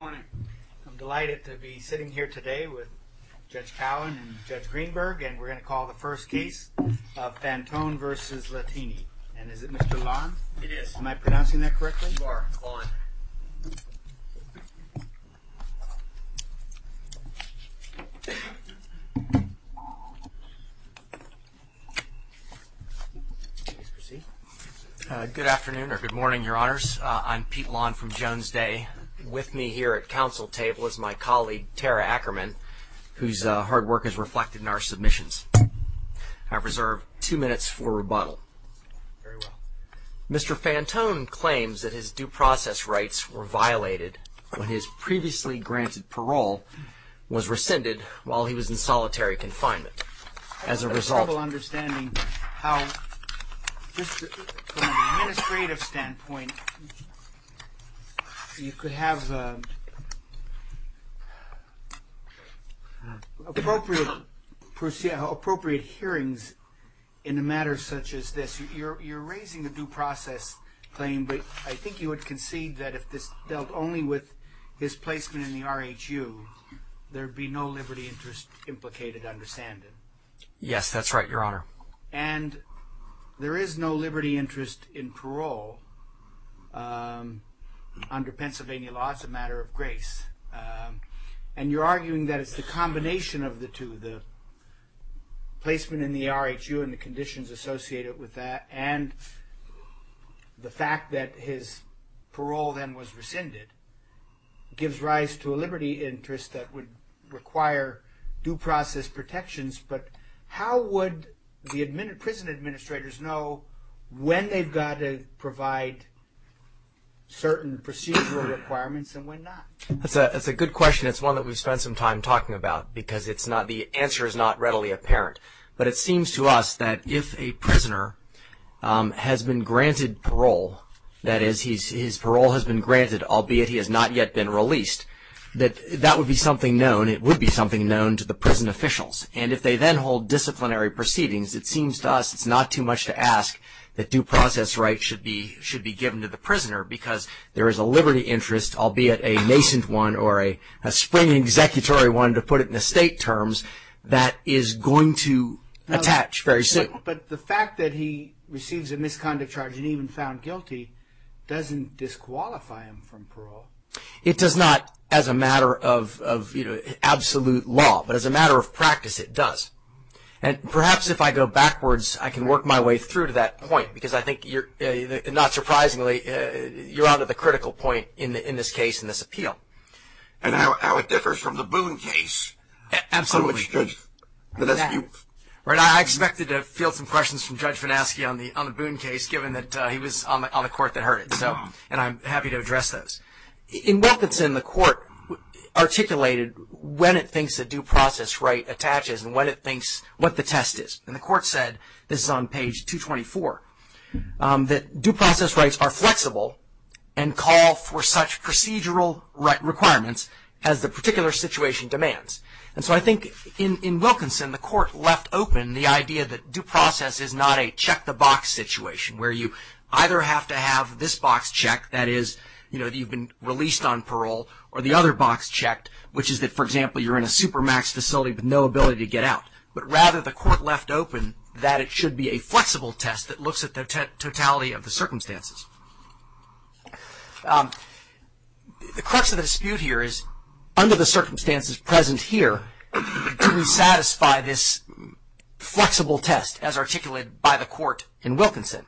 I'm delighted to be sitting here today with Judge Cowan and Judge Greenberg and we're going to call the first case of Fantone v. Latini and is it Mr. Lon? It is. Am I pronouncing that correctly? You are. Good afternoon or good morning your honors. I'm Pete Lon from Jones Day. With me here at council table is my colleague Tara Ackerman whose hard work is reflected in our submissions. I reserve two minutes for rebuttal. Mr. Fantone claims that his due process rights were violated when his previously granted parole was rescinded while he was a result. I have trouble understanding how, from an administrative standpoint, you could have appropriate hearings in a matter such as this. You're raising a due process claim but I think you would concede that if this dealt only with his placement in the R.H.U. there'd be no liberty interest implicated to understand it. Yes that's right your honor. And there is no liberty interest in parole under Pennsylvania law. It's a matter of grace and you're arguing that it's the combination of the two. The placement in the R.H.U. and the conditions associated with that and the fact that his parole then was rescinded gives rise to a liberty interest that would require due process protections. But how would the prison administrators know when they've got to provide certain procedural requirements and when not? That's a good question. It's one that we've spent some time talking about because the answer is not readily apparent. But it seems to us that if a prisoner has been granted parole, that is that would be something known. It would be something known to the prison officials. And if they then hold disciplinary proceedings, it seems to us it's not too much to ask that due process rights should be should be given to the prisoner because there is a liberty interest, albeit a nascent one or a spring executory one, to put it in the state terms, that is going to attach very soon. But the fact that he receives a misconduct charge and even found guilty doesn't disqualify him from parole. It does not as a matter of absolute law, but as a matter of practice it does. And perhaps if I go backwards, I can work my way through to that point because I think you're, not surprisingly, you're on to the critical point in this case, in this appeal. And how it differs from the Boone case. Absolutely. I expected to feel some questions from Judge Wilkinson, the court that heard it. So, and I'm happy to address those. In Wilkinson, the court articulated when it thinks a due process right attaches and what it thinks what the test is. And the court said, this is on page 224, that due process rights are flexible and call for such procedural requirements as the particular situation demands. And so I think in Wilkinson, the court left open the idea that due process is not a check-the-box situation where you either have to have this box checked, that is, you know, you've been released on parole, or the other box checked, which is that, for example, you're in a supermax facility with no ability to get out. But rather, the court left open that it should be a flexible test that looks at the totality of the circumstances. The crux of the dispute here is, under the circumstances present here, do we satisfy this flexible test as articulated by the court in Wilkinson?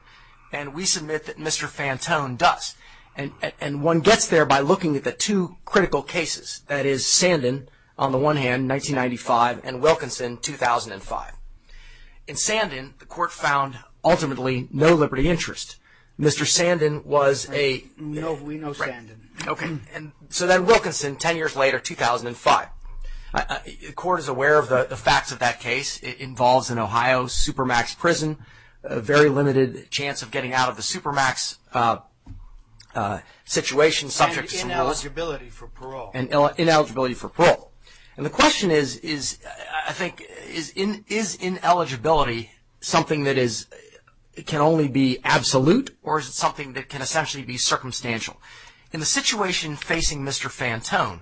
And we submit that Mr. Fantone does. And one gets there by looking at the two critical cases, that is, Sandin, on the one hand, 1995, and Wilkinson, 2005. In Sandin, the court found, ultimately, no liberty interest. Mr. Sandin was a, okay, and so then Wilkinson, ten years later, 2005. The court is aware of the facts of that case. It involves, in Ohio, supermax prison, a very limited chance of getting out of the supermax situation, subject to some rules. And ineligibility for parole. And ineligibility for parole. And the question is, I think, is ineligibility something that is, it can only be absolute, or is it something that can essentially be circumstantial? In the situation facing Mr. Fantone,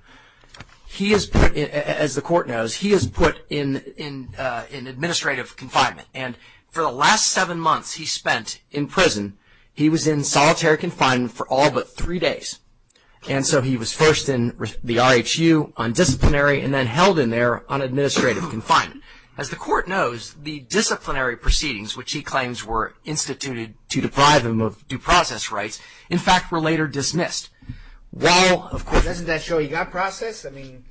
he is put, as the court knows, he is put in administrative confinement. And for the last seven months he spent in prison, he was in solitary confinement for all but three days. And so he was first in the R.H.U. on disciplinary, and then held in there on administrative confinement. As the court knows, the disciplinary proceedings, which he claims were instituted to deprive him of due process rights, in fact, were later dismissed. While, of course... Doesn't that show he got processed? I mean,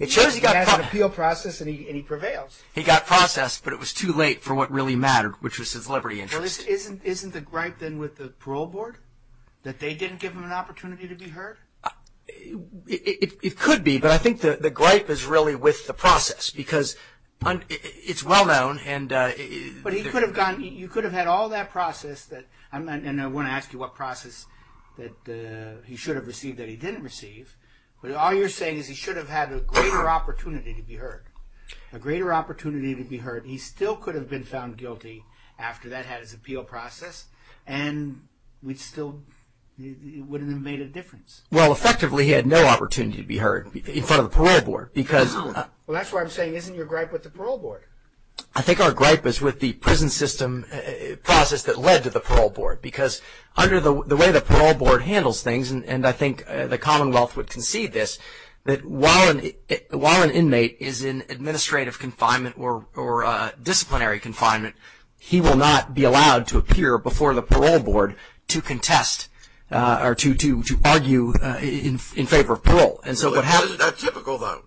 it shows he got appeal process, and he prevails. He got processed, but it was too late for what really mattered, which was his liberty interest. Well, isn't the gripe then with the parole board? That they didn't give him an opportunity to be heard? It could be, but I think the gripe is really with the process, because it's well known, and... But he could have gotten, you could have had all that process that, and I want to ask you what process that he should have received that he didn't receive, but all you're saying is he should have had a greater opportunity to be heard. A greater opportunity to be heard. He still could have been found guilty after that had his appeal process, and we'd still... it wouldn't have made a difference. Well, effectively, he had no opportunity to be heard in front of the parole board, because... Well, that's why I'm saying, isn't your gripe with the parole board? I think our gripe is with the prison system process that led to the parole board, because under the way the parole board handles things, and I think the Commonwealth would concede this, that while an inmate is in administrative confinement or disciplinary confinement, he will not be allowed to appear before the parole board to contest, or to argue in favor of parole. And so what happens... Isn't that typical, though?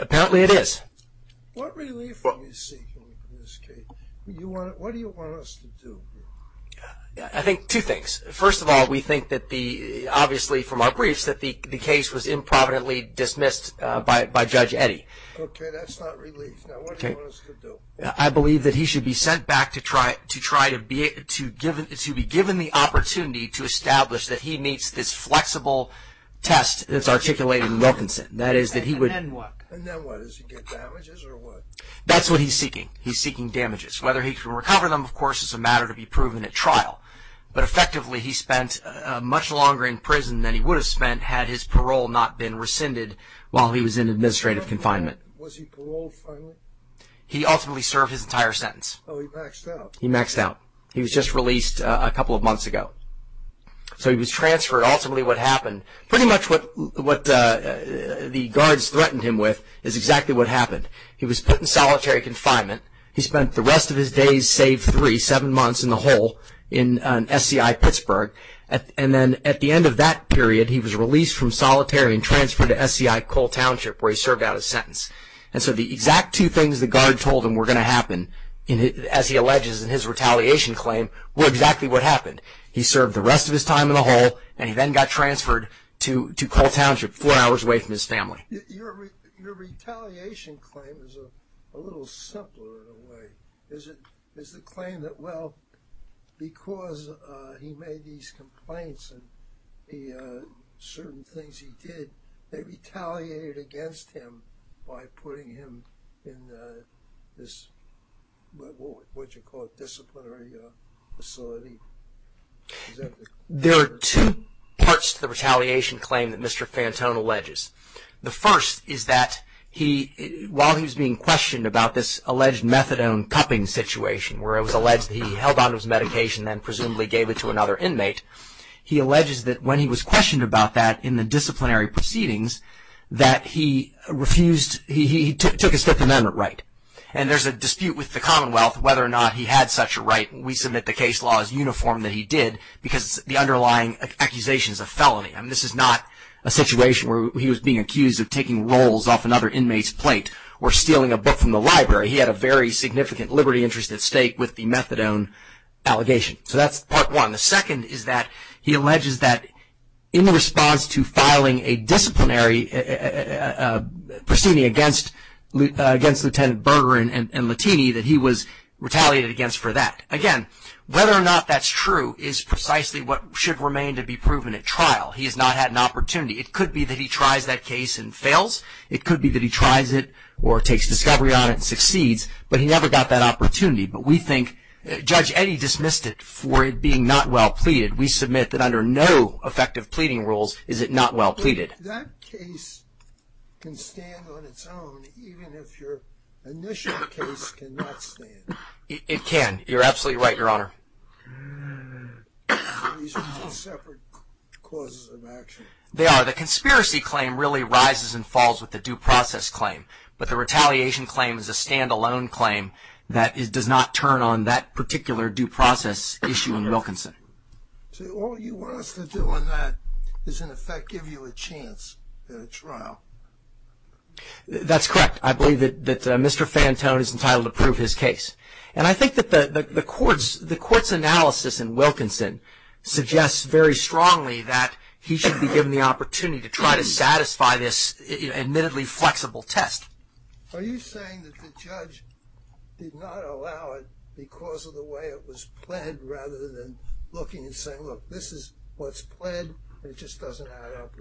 Apparently it is. What relief are you seeking in this case? What do you want us to do? I think two things. First of all, we think that the... obviously from our briefs, that the case was improvidently dismissed by Judge Eddy. Okay, that's not relief. Now, what do you want us to do? I believe that he should be sent back to try to be... to be given the opportunity to establish that he meets this flexible test that's articulated in Wilkinson. That is, that he would... And then what? And then what? Does he get damages, or what? That's what he's seeking. He's seeking damages. Whether he can recover them, of course, would be proven at trial. But effectively, he spent much longer in prison than he would have spent had his parole not been rescinded while he was in administrative confinement. Was he paroled finally? He ultimately served his entire sentence. Oh, he maxed out? He maxed out. He was just released a couple of months ago. So he was transferred. Ultimately, what happened... pretty much what the guards threatened him with is exactly what happened. He was put in solitary for three, seven months in the hole in SCI Pittsburgh. And then at the end of that period, he was released from solitary and transferred to SCI Cole Township where he served out his sentence. And so the exact two things the guard told him were going to happen, as he alleges in his retaliation claim, were exactly what happened. He served the rest of his time in the hole, and he then got transferred to Cole Township, four hours away from his family. Your retaliation claim is a little simpler in a way. Is the claim that, well, because he made these complaints and certain things he did, they retaliated against him by putting him in this, what you call, disciplinary facility? There are two parts to the retaliation claim that Mr. Fantone alleges. The first is that, while he was being questioned about this alleged methadone cupping situation, where it was alleged that he held onto his medication and presumably gave it to another inmate, he alleges that when he was questioned about that in the disciplinary proceedings, that he refused... he took a Fifth Amendment right. And there's a dispute with the Commonwealth whether or not we submit the case law as uniform that he did, because the underlying accusation is a felony. And this is not a situation where he was being accused of taking rolls off another inmate's plate or stealing a book from the library. He had a very significant liberty interest at stake with the methadone allegation. So that's part one. The second is that he alleges that, in the response to filing a disciplinary proceeding against Lieutenant Berger and Lattini, that he was retaliated against for that. Again, whether or not that's true is precisely what should remain to be proven at trial. He has not had an opportunity. It could be that he tries that case and fails. It could be that he tries it or takes discovery on it and succeeds. But he never got that opportunity. But we think Judge Eddy dismissed it for it being not well pleaded. We submit that under no effective pleading rules is it not well That case can stand on its own even if your initial case cannot stand. It can. You're absolutely right, Your Honor. These are two separate causes of action. They are. The conspiracy claim really rises and falls with the due process claim. But the retaliation claim is a stand-alone claim that does not turn on that particular due process issue in Wilkinson. So all you want us to do on that is, in effect, give you a chance at a trial. That's correct. I believe that Mr. Fantone is entitled to prove his case. And I think that the court's analysis in Wilkinson suggests very strongly that he should be given the opportunity to try to satisfy this admittedly flexible test. Are you saying that the judge did not allow it because of the way it was planned, rather than looking and saying, look, this is what's planned, and it just doesn't add up?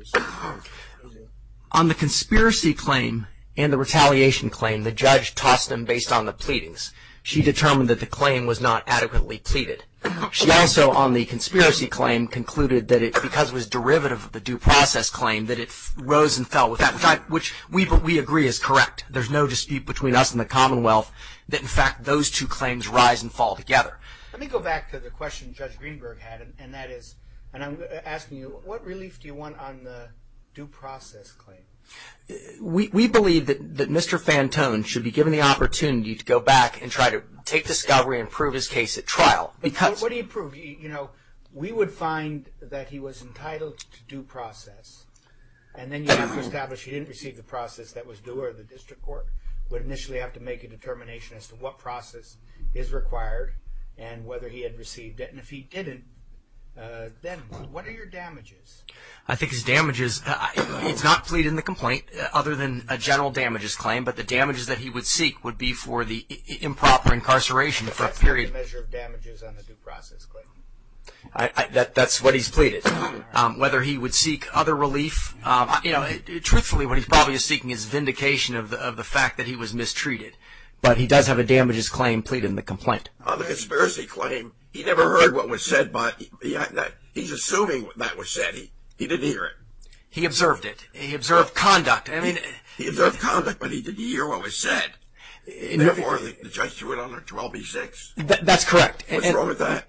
On the conspiracy claim and the retaliation claim, the judge tossed them based on the pleadings. She determined that the claim was not adequately pleaded. She also, on the conspiracy claim, concluded that it, because it was derivative of the due process claim, that it rose and fell with that, which we agree is correct. There's no dispute between us and the Commonwealth that, in Let's go back to the question Judge Greenberg had, and that is, and I'm asking you, what relief do you want on the due process claim? We believe that Mr. Fantone should be given the opportunity to go back and try to take discovery and prove his case at trial. What do you prove? We would find that he was entitled to due process, and then you have to establish he didn't receive the process that was due, or the district court would initially have to make a determination as to what process is required, and whether he had received it, and if he didn't, then what are your damages? I think his damages, he's not pleading the complaint, other than a general damages claim, but the damages that he would seek would be for the improper incarceration for a period. That's the measure of damages on the due process claim. That's what he's pleaded. Whether he would seek other relief, you know, truthfully what he's probably seeking is vindication of the fact that he was not pleading the complaint. On the conspiracy claim, he never heard what was said, but he's assuming that was said. He didn't hear it. He observed it. He observed conduct. He observed conduct, but he didn't hear what was said. Therefore, the judge threw it on a 12B6. That's correct. What's wrong with that?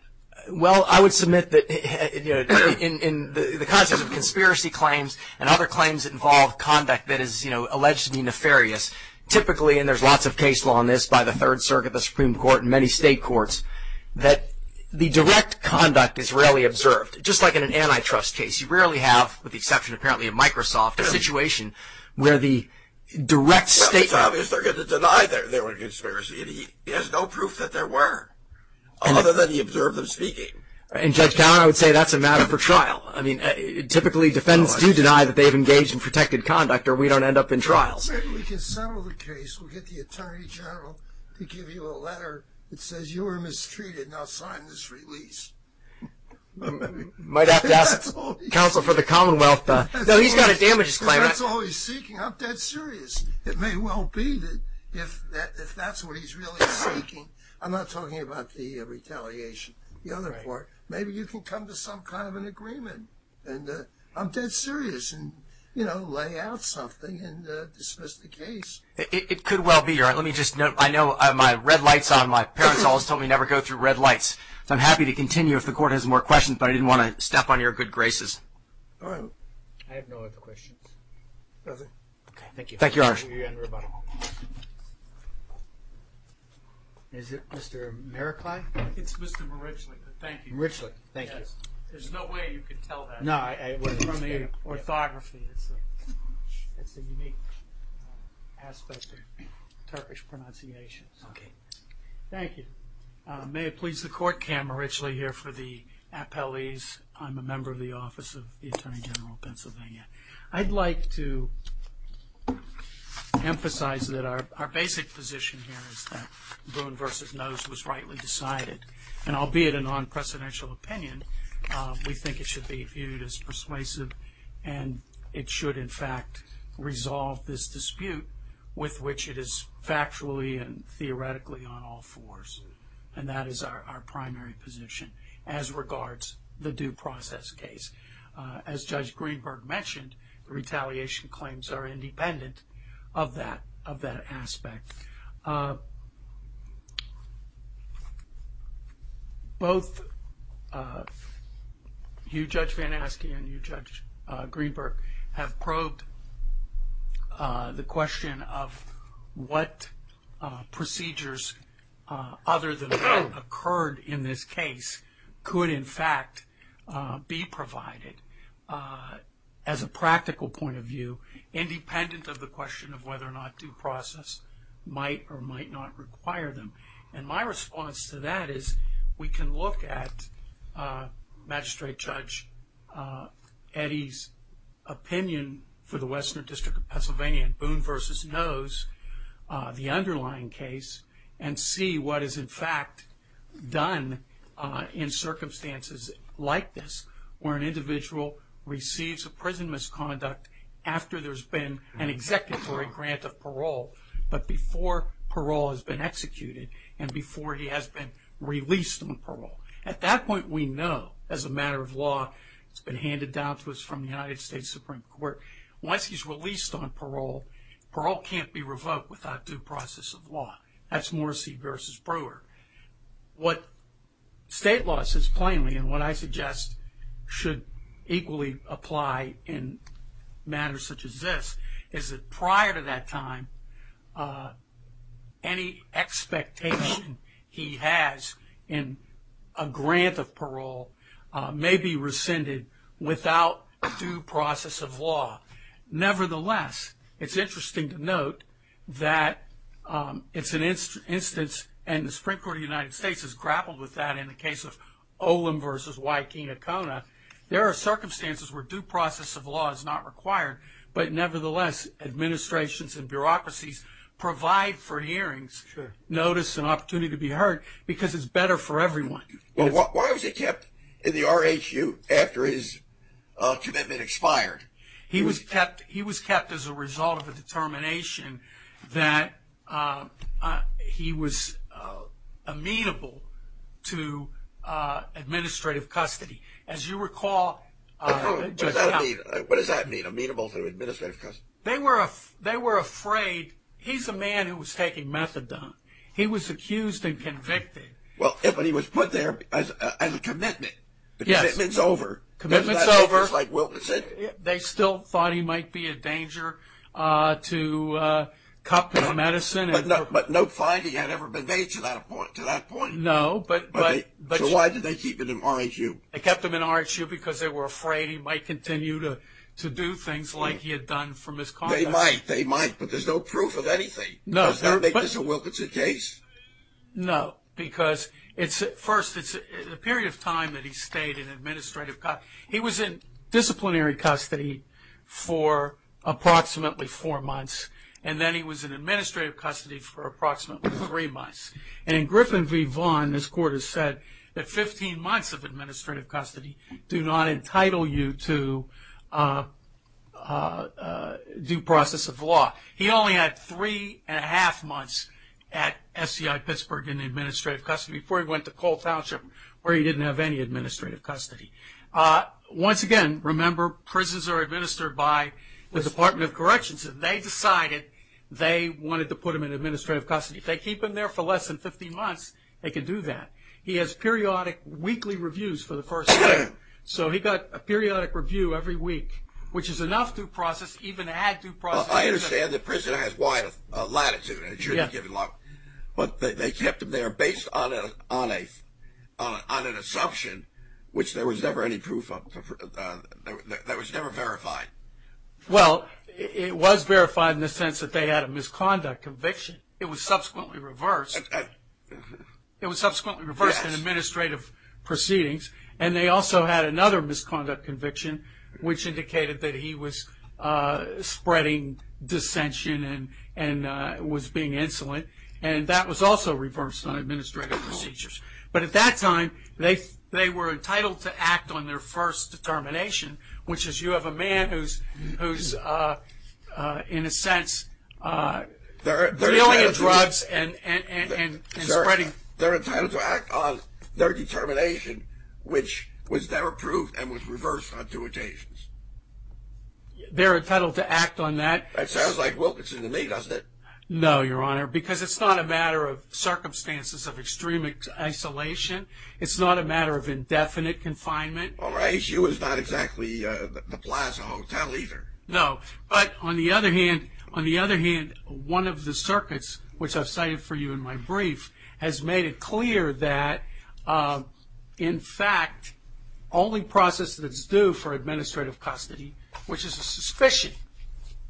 Well, I would submit that in the context of conspiracy claims and other claims that involve conduct that is, you know, alleged to be nefarious, typically, and there's lots of case law on this by the Third Circuit, the Supreme Court, and many state courts, that the direct conduct is rarely observed. Just like in an antitrust case, you rarely have, with the exception, apparently, of Microsoft, a situation where the direct state. Well, it's obvious they're going to deny that there was a conspiracy, and he has no proof that there were, other than he observed them speaking. In Judge Cowan, I would say that's a matter for trial. I mean, typically, defendants do deny that they've engaged in protected conduct, or we don't end up in trials. Well, maybe we can settle the case. We'll get the Attorney General to give you a letter that says you were mistreated. Now, sign this release. Might have to ask counsel for the Commonwealth. No, he's got a damages claim. That's all he's seeking. I'm dead serious. It may well be that if that's what he's really seeking. I'm not talking about the retaliation. The other part, maybe you can come to some kind of an agreement, and I'm dead It could well be. Let me just note, I know my red lights on. My parents always told me never go through red lights. I'm happy to continue if the court has more questions, but I didn't want to step on your good graces. All right. I have no other questions. Nothing. Okay. Thank you. Thank you, Your Honor. Is it Mr. Mericlai? It's Mr. Mericlai. Thank you. Mericlai. Thank you. There's no way you could tell that. No, I wouldn't. It's from the orthography. It's a unique aspect of Turkish pronunciation. Okay. Thank you. May it please the court, Cam Mericlai here for the appellees. I'm a member of the Office of the Attorney General of Pennsylvania. I'd like to emphasize that our basic position here is that Boone v. Nose was rightly decided, and albeit a non-presidential opinion, we think it should be viewed as persuasive and it should, in fact, resolve this dispute with which it is factually and theoretically on all fours, and that is our primary position as regards the due process case. As Judge Greenberg mentioned, retaliation claims are independent of that aspect. Both you, Judge Van Aske and you, Judge Greenberg, have probed the question of what procedures, other than what occurred in this case, could, in fact, be provided as a practical point of view, independent of the question of whether or not due process might or might not require them. And my response to that is we can look at, Magistrate Judge, Eddie's opinion for the Western District of Pennsylvania in Boone v. Nose, the underlying case, and see what is, in fact, done in circumstances like this where an individual receives a prison misconduct after there's been an act of parole, but before parole has been executed and before he has been released on parole. At that point, we know, as a matter of law, it's been handed down to us from the United States Supreme Court. Once he's released on parole, parole can't be revoked without due process of law. That's Morrissey v. Brewer. What state law says plainly and what I suggest should equally apply in matters such as this is that prior to that time, any expectation he has in a grant of parole may be rescinded without due process of law. Nevertheless, it's interesting to note that it's an instance, and the Supreme Court of the United States has grappled with that in the case of Olin v. Wikinga-Kona. There are circumstances where due process of law is not required, but nevertheless, administrations and bureaucracies provide for hearings, notice and opportunity to be heard because it's better for everyone. Why was he kept in the RHU after his commitment expired? He was kept as a result of a determination that he was amenable to administrative custody. As you recall... What does that mean, amenable to administrative custody? They were afraid. He's a man who was taking methadone. He was accused and convicted. But he was put there as a commitment. Yes. The commitment's over. The commitment's over. Doesn't that make us like Wilkinson? They still thought he might be a danger to Cochrane Medicine. But no finding had ever been made to that point. No. So why did they keep him in RHU? They kept him in RHU because they were afraid he might continue to do things like he had done from his conduct. They might, but there's no proof of anything. Does that make this a Wilkinson case? No. Because first, it's a period of time that he stayed in administrative custody. He was in disciplinary custody for approximately four months, and then he was in administrative custody for approximately three months. And in Griffin v. Vaughn, this court has said that 15 months of administrative custody do not entitle you to due process of law. He only had three and a half months at SCI Pittsburgh in administrative custody before he went to Cole Township, where he didn't have any administrative custody. Once again, remember, prisons are administered by the Department of Corrections, and they decided they wanted to put him in administrative custody. If they keep him there for less than 15 months, they can do that. He has periodic weekly reviews for the first year. So he got a periodic review every week, which is enough due process, even to add due process. I understand the prison has wide latitude, and it should be given a lot, but they kept him there based on an assumption, which there was never any proof of. That was never verified. Well, it was verified in the sense that they had a misconduct conviction. It was subsequently reversed. It was subsequently reversed in administrative proceedings, and they also had another misconduct conviction, which indicated that he was spreading dissension and was being insolent, and that was also reversed on administrative procedures. But at that time, they were entitled to act on their first determination, which is you have a man who's in a sense dealing in drugs and spreading. They're entitled to act on their determination, which was never proved and was reversed on two occasions. They're entitled to act on that. That sounds like Wilkinson to me, doesn't it? No, Your Honor, because it's not a matter of circumstances of extreme isolation. It's not a matter of indefinite confinement. All right. He was not exactly the Plaza Hotel either. No, but on the other hand, one of the circuits, which I've cited for you in my brief, has made it clear that, in fact, only process that's due for administrative custody, which is a suspicion,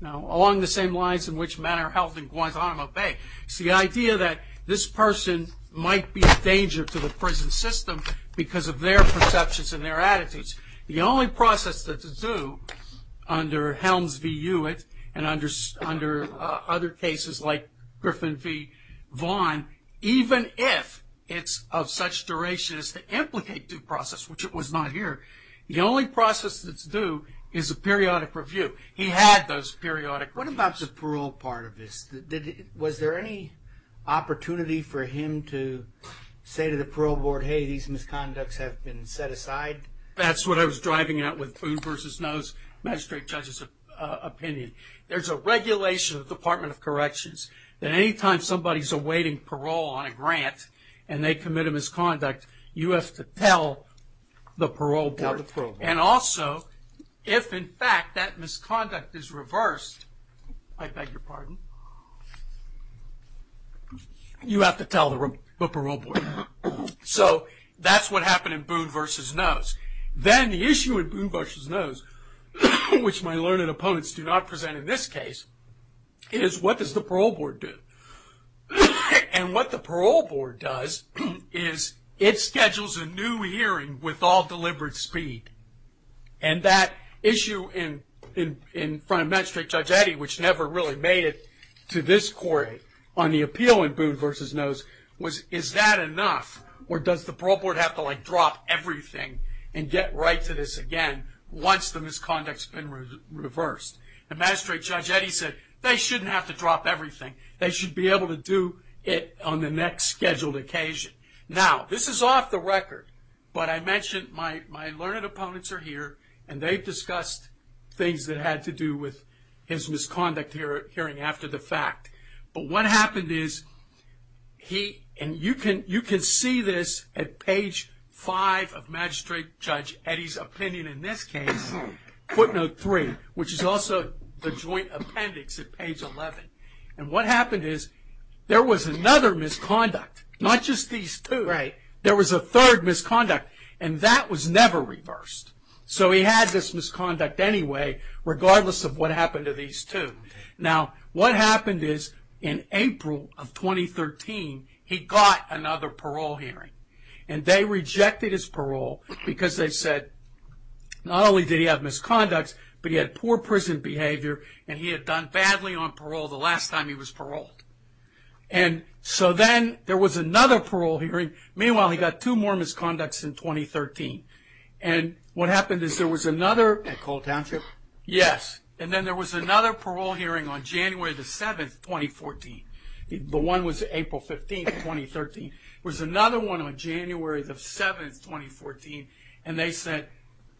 along the same lines in which Manor Health and Guantanamo Bay. It's the idea that this person might be a danger to the prison system because of their perceptions and their attitudes. The only process that's due under Helms v. Hewitt and under other cases like Griffin v. Vaughn, even if it's of such duration as to implicate due process, which it was not here, the only process that's due is a periodic review. He had those periodic. What about the parole part of this? Was there any opportunity for him to say to the parole board, hey, these misconducts have been set aside? That's what I was driving at with Food v. Nose, magistrate judge's opinion. There's a regulation of the Department of Corrections that any time somebody's awaiting parole on a grant and they commit a misconduct, you have to tell the parole board. And also, if, in fact, that misconduct is reversed, I beg your pardon, you have to tell the parole board. So that's what happened in Boone v. Nose. Then the issue with Boone v. Nose, which my learned opponents do not present in this case, is what does the parole board do? And what the parole board does is it schedules a new hearing with all deliberate speed. And that issue in front of magistrate judge Eddy, which never really made it to this court on the appeal in Boone v. Nose, is that enough or does the parole board have to drop everything and get right to this again once the misconduct's been reversed? And magistrate judge Eddy said they shouldn't have to drop everything. They should be able to do it on the next scheduled occasion. Now, this is off the record, but I mentioned my learned opponents are here and they've discussed things that had to do with his misconduct hearing after the fact. But what happened is he, and you can see this at page 5 of magistrate judge Eddy's opinion in this case, footnote 3, which is also the joint appendix at page 11. And what happened is there was another misconduct, not just these two. There was a third misconduct, and that was never reversed. So he had this misconduct anyway, regardless of what happened to these two. Now, what happened is in April of 2013, he got another parole hearing. And they rejected his parole because they said not only did he have misconducts, but he had poor prison behavior and he had done badly on parole the last time he was paroled. And so then there was another parole hearing. Meanwhile, he got two more misconducts in 2013. And what happened is there was another... At Cole Township? Yes. And then there was another parole hearing on January the 7th, 2014. The one was April 15th, 2013. There was another one on January the 7th, 2014, and they said,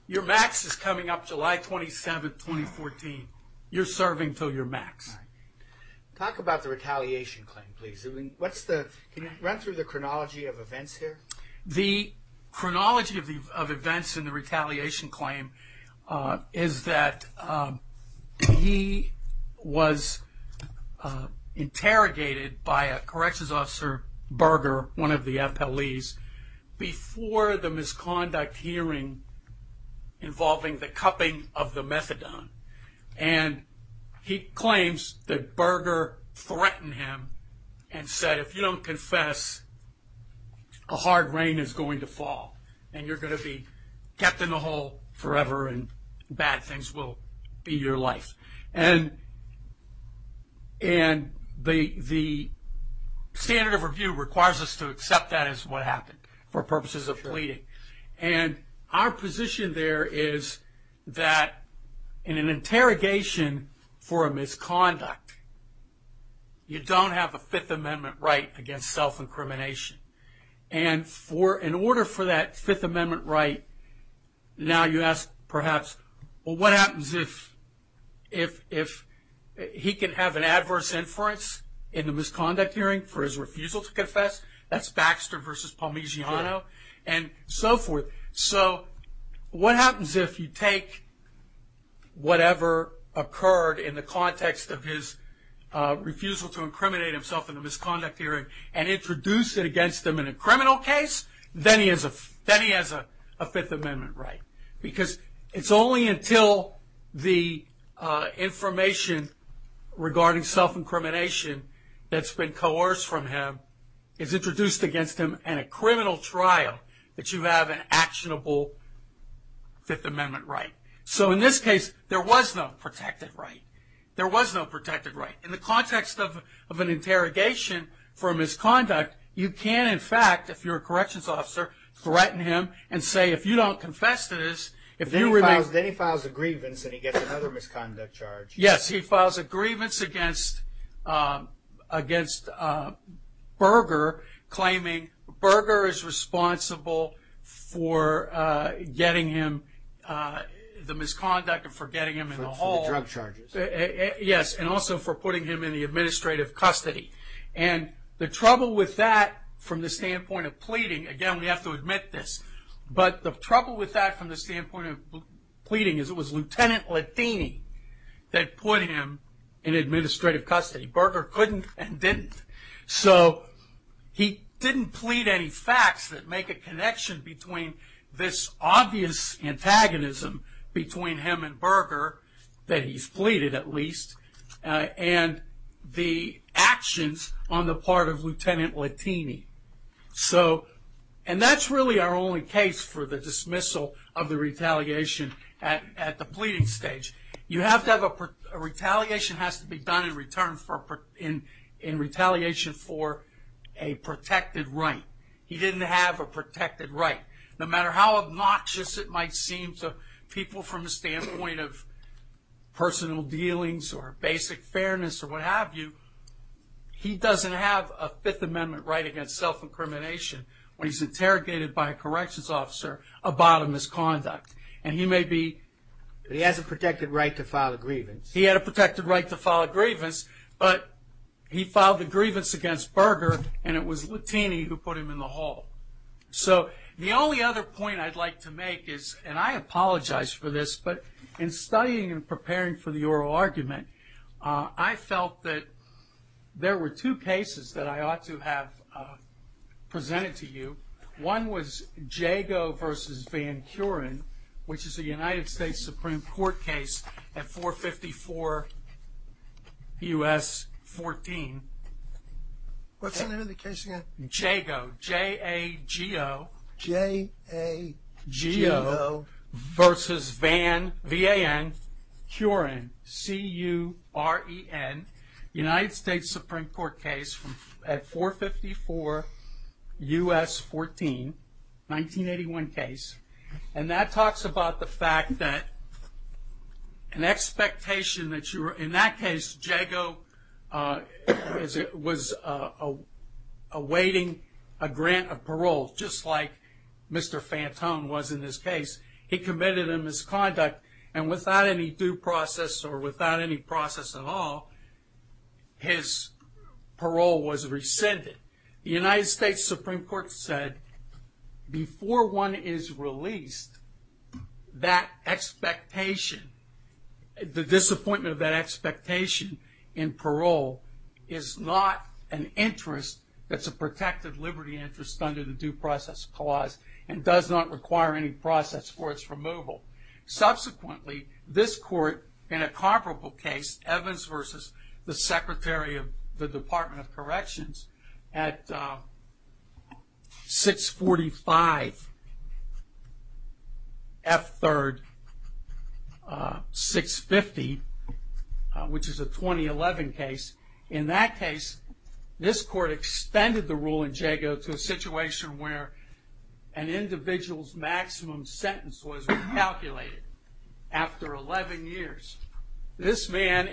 your max is coming up July 27th, 2014. You're serving until your max. Talk about the retaliation claim, please. Can you run through the chronology of events here? The chronology of events in the retaliation claim is that he was interrogated by a corrections officer, Berger, one of the FLEs, before the misconduct hearing involving the cupping of the methadone. And he claims that Berger threatened him and said, if you don't confess, a hard rain is going to fall and you're going to be kept in the hole forever and bad things will be your life. And the standard of review requires us to accept that as what happened for purposes of pleading. And our position there is that in an interrogation for a misconduct, you don't have a Fifth Amendment right against self-incrimination. And in order for that Fifth Amendment right, now you ask, perhaps, well, what happens if he can have an adverse inference in the misconduct hearing for his refusal to confess? That's Baxter v. Palminciano. And so forth. So what happens if you take whatever occurred in the context of his refusal to incriminate himself in the misconduct hearing and introduce it against him in a criminal case? Then he has a Fifth Amendment right. Because it's only until the information regarding self-incrimination that's been coerced from him is introduced against him in a criminal trial that you have an actionable Fifth Amendment right. So in this case, there was no protected right. There was no protected right. In the context of an interrogation for a misconduct, you can, in fact, if you're a corrections officer, threaten him and say, if you don't confess to this, if you remain... Then he files a grievance and he gets another misconduct charge. Yes, he files a grievance against Berger, claiming Berger is responsible for getting him the misconduct and for getting him in the hall. For the drug charges. Yes, and also for putting him in the administrative custody. And the trouble with that from the standpoint of pleading, again, we have to admit this, but the trouble with that from the standpoint of pleading is it was Lieutenant Lettini that put him in administrative custody. Berger couldn't and didn't. So he didn't plead any facts that make a connection between this obvious antagonism between him and Berger, that he's pleaded at least, and the actions on the part of Lieutenant Lettini. And that's really our only case for the dismissal of the retaliation at the pleading stage. A retaliation has to be done in retaliation for a protected right. He didn't have a protected right. No matter how obnoxious it might seem to people from the standpoint of personal dealings or basic fairness or what have you, he doesn't have a Fifth Amendment right against self-incrimination when he's interrogated by a corrections officer about a misconduct. And he may be... He has a protected right to file a grievance. He had a protected right to file a grievance, but he filed a grievance against Berger and it was Lettini who put him in the hall. So the only other point I'd like to make is, and I apologize for this, but in studying and preparing for the oral argument, I felt that there were two cases that I ought to have presented to you. One was Jago v. Van Curen, which is a United States Supreme Court case at 454 U.S. 14. What's the name of the case again? Jago, J-A-G-O. J-A-G-O. Versus Van, V-A-N, Curen, C-U-R-E-N, United States Supreme Court case at 454 U.S. 14, 1981 case. And that talks about the fact that an expectation that you were... In that case, Jago was awaiting a grant of parole, just like Mr. Fantone was in this case. He committed a misconduct and without any due process or without any process at all, his parole was rescinded. The United States Supreme Court said, before one is released, that expectation, the disappointment of that expectation in parole is not an interest that's a protected liberty interest under the Due Process Clause and does not require any process for its removal. Subsequently, this court, in a comparable case, Evans v. the Secretary of the Department of Corrections, at 645 F. 3rd, 650, which is a 2011 case. In that case, this court extended the rule in Jago to a situation where an individual's maximum sentence was recalculated after 11 years. This man,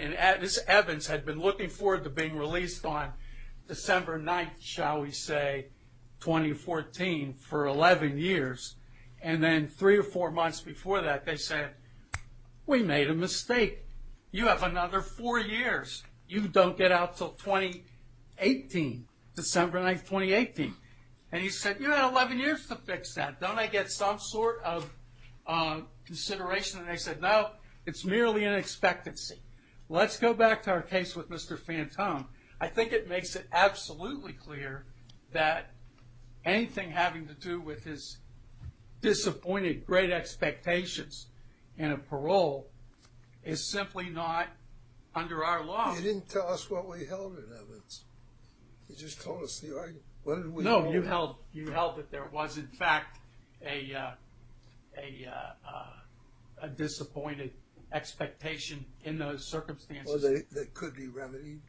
Evans, had been looking forward to being released on December 9th, shall we say, 2014, for 11 years. And then three or four months before that, they said, we made a mistake. You have another four years. You don't get out until 2018, December 9th, 2018. And he said, you have 11 years to fix that. Don't I get some sort of consideration? And they said, no, it's merely an expectancy. Let's go back to our case with Mr. Fantone. I think it makes it absolutely clear that anything having to do with his You didn't tell us what we held in Evans. You just told us the argument. No, you held that there was, in fact, a disappointed expectation in those circumstances. That it could be remedied?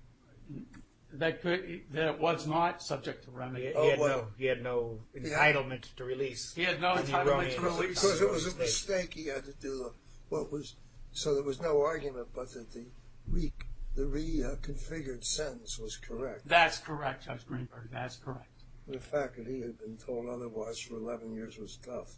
That it was not subject to remedy. He had no entitlement to release. Because it was a mistake he had to do. So there was no argument, but that the reconfigured sentence was correct. That's correct, Judge Greenberg. That's correct. The fact that he had been told otherwise for 11 years was tough.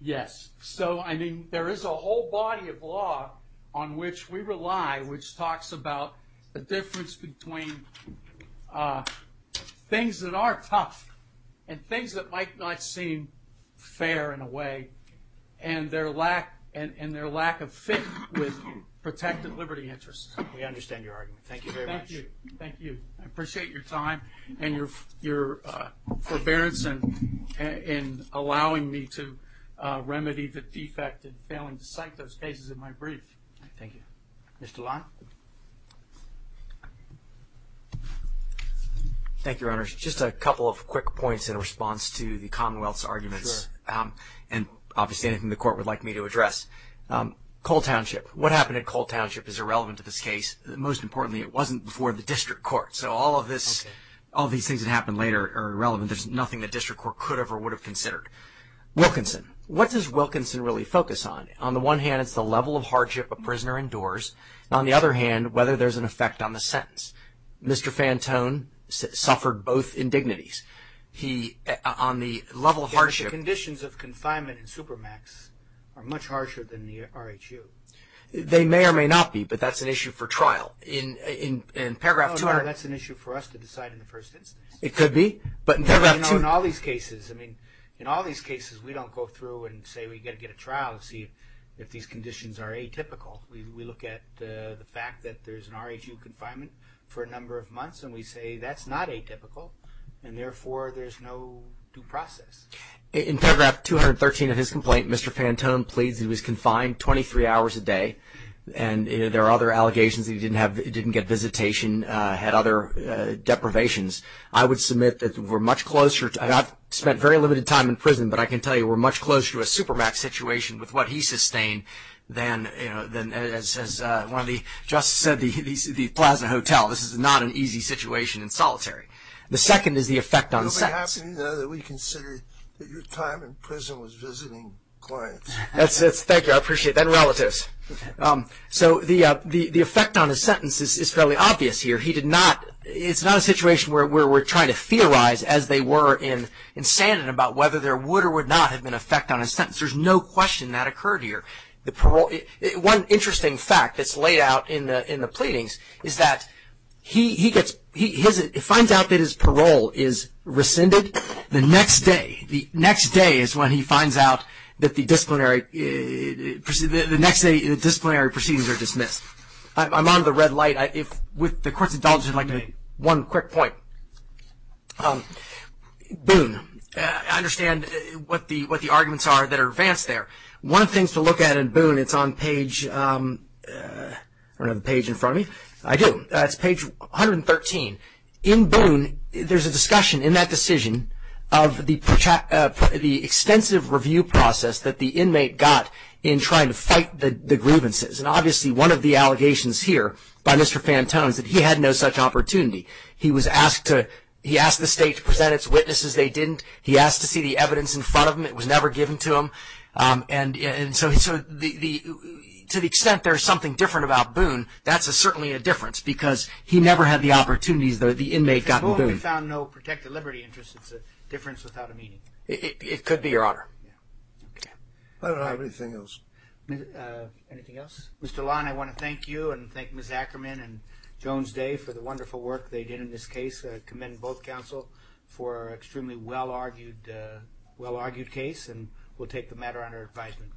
Yes. So, I mean, there is a whole body of law on which we rely, which talks about the difference between things that are tough and things that might not seem fair in a way, and their lack of fit with protected liberty interests. We understand your argument. Thank you very much. Thank you. I appreciate your time and your forbearance in allowing me to remedy the defect and failing to cite those cases in my brief. Thank you. Mr. Long? Thank you, Your Honors. Just a couple of quick points in response to the Commonwealth's arguments. Sure. And obviously anything the Court would like me to address. Cole Township. What happened at Cole Township is irrelevant to this case. Most importantly, it wasn't before the District Court. So all of these things that happened later are irrelevant. There's nothing the District Court could have or would have considered. Wilkinson. What does Wilkinson really focus on? On the one hand, it's the level of hardship a prisoner endures. On the other hand, whether there's an effect on the sentence. Mr. Fantone suffered both indignities. On the level of hardship. The conditions of confinement in Supermax are much harsher than the RHU. They may or may not be, but that's an issue for trial. No, that's an issue for us to decide in the first instance. It could be. In all these cases, we don't go through and say we've got to get a trial to see if these conditions are atypical. We look at the fact that there's an RHU confinement for a number of months and we say that's not atypical and, therefore, there's no due process. In paragraph 213 of his complaint, Mr. Fantone pleads he was confined 23 hours a day and there are other allegations that he didn't get visitation, had other deprivations. I would submit that we're much closer. I've spent very limited time in prison, but I can tell you we're much closer to a Supermax situation with what he sustained than, as one of the justices said, the Plaza Hotel. This is not an easy situation in solitary. The second is the effect on sentence. It would be happening now that we consider that your time in prison was visiting clients. Thank you. I appreciate that. And relatives. So the effect on his sentence is fairly obvious here. It's not a situation where we're trying to theorize, as they were in Sandin, about whether there would or would not have been an effect on his sentence. There's no question that occurred here. One interesting fact that's laid out in the pleadings is that he gets, he finds out that his parole is rescinded the next day. The next day is when he finds out that the disciplinary proceedings are dismissed. I'm on the red light. If, with the court's indulgence, I'd like to make one quick point. Boone, I understand what the arguments are that are advanced there. One of the things to look at in Boone, it's on page, I don't have a page in front of me. I do. It's page 113. In Boone, there's a discussion in that decision of the extensive review process that the inmate got in trying to fight the grievances. And obviously one of the allegations here by Mr. Fantone is that he had no such opportunity. He was asked to, he asked the state to present its witnesses. They didn't. He asked to see the evidence in front of him. It was never given to him. And so to the extent there's something different about Boone, that's certainly a difference because he never had the opportunities that the inmate got in Boone. In Boone, we found no protected liberty interest. It's a difference without a meaning. It could be, Your Honor. Yeah. Okay. I don't have anything else. Anything else? Mr. Lon, I want to thank you and thank Ms. Ackerman and Jones Day for the wonderful work they did in this case. I commend both counsel for an extremely well-argued case, and we'll take the matter under advisement.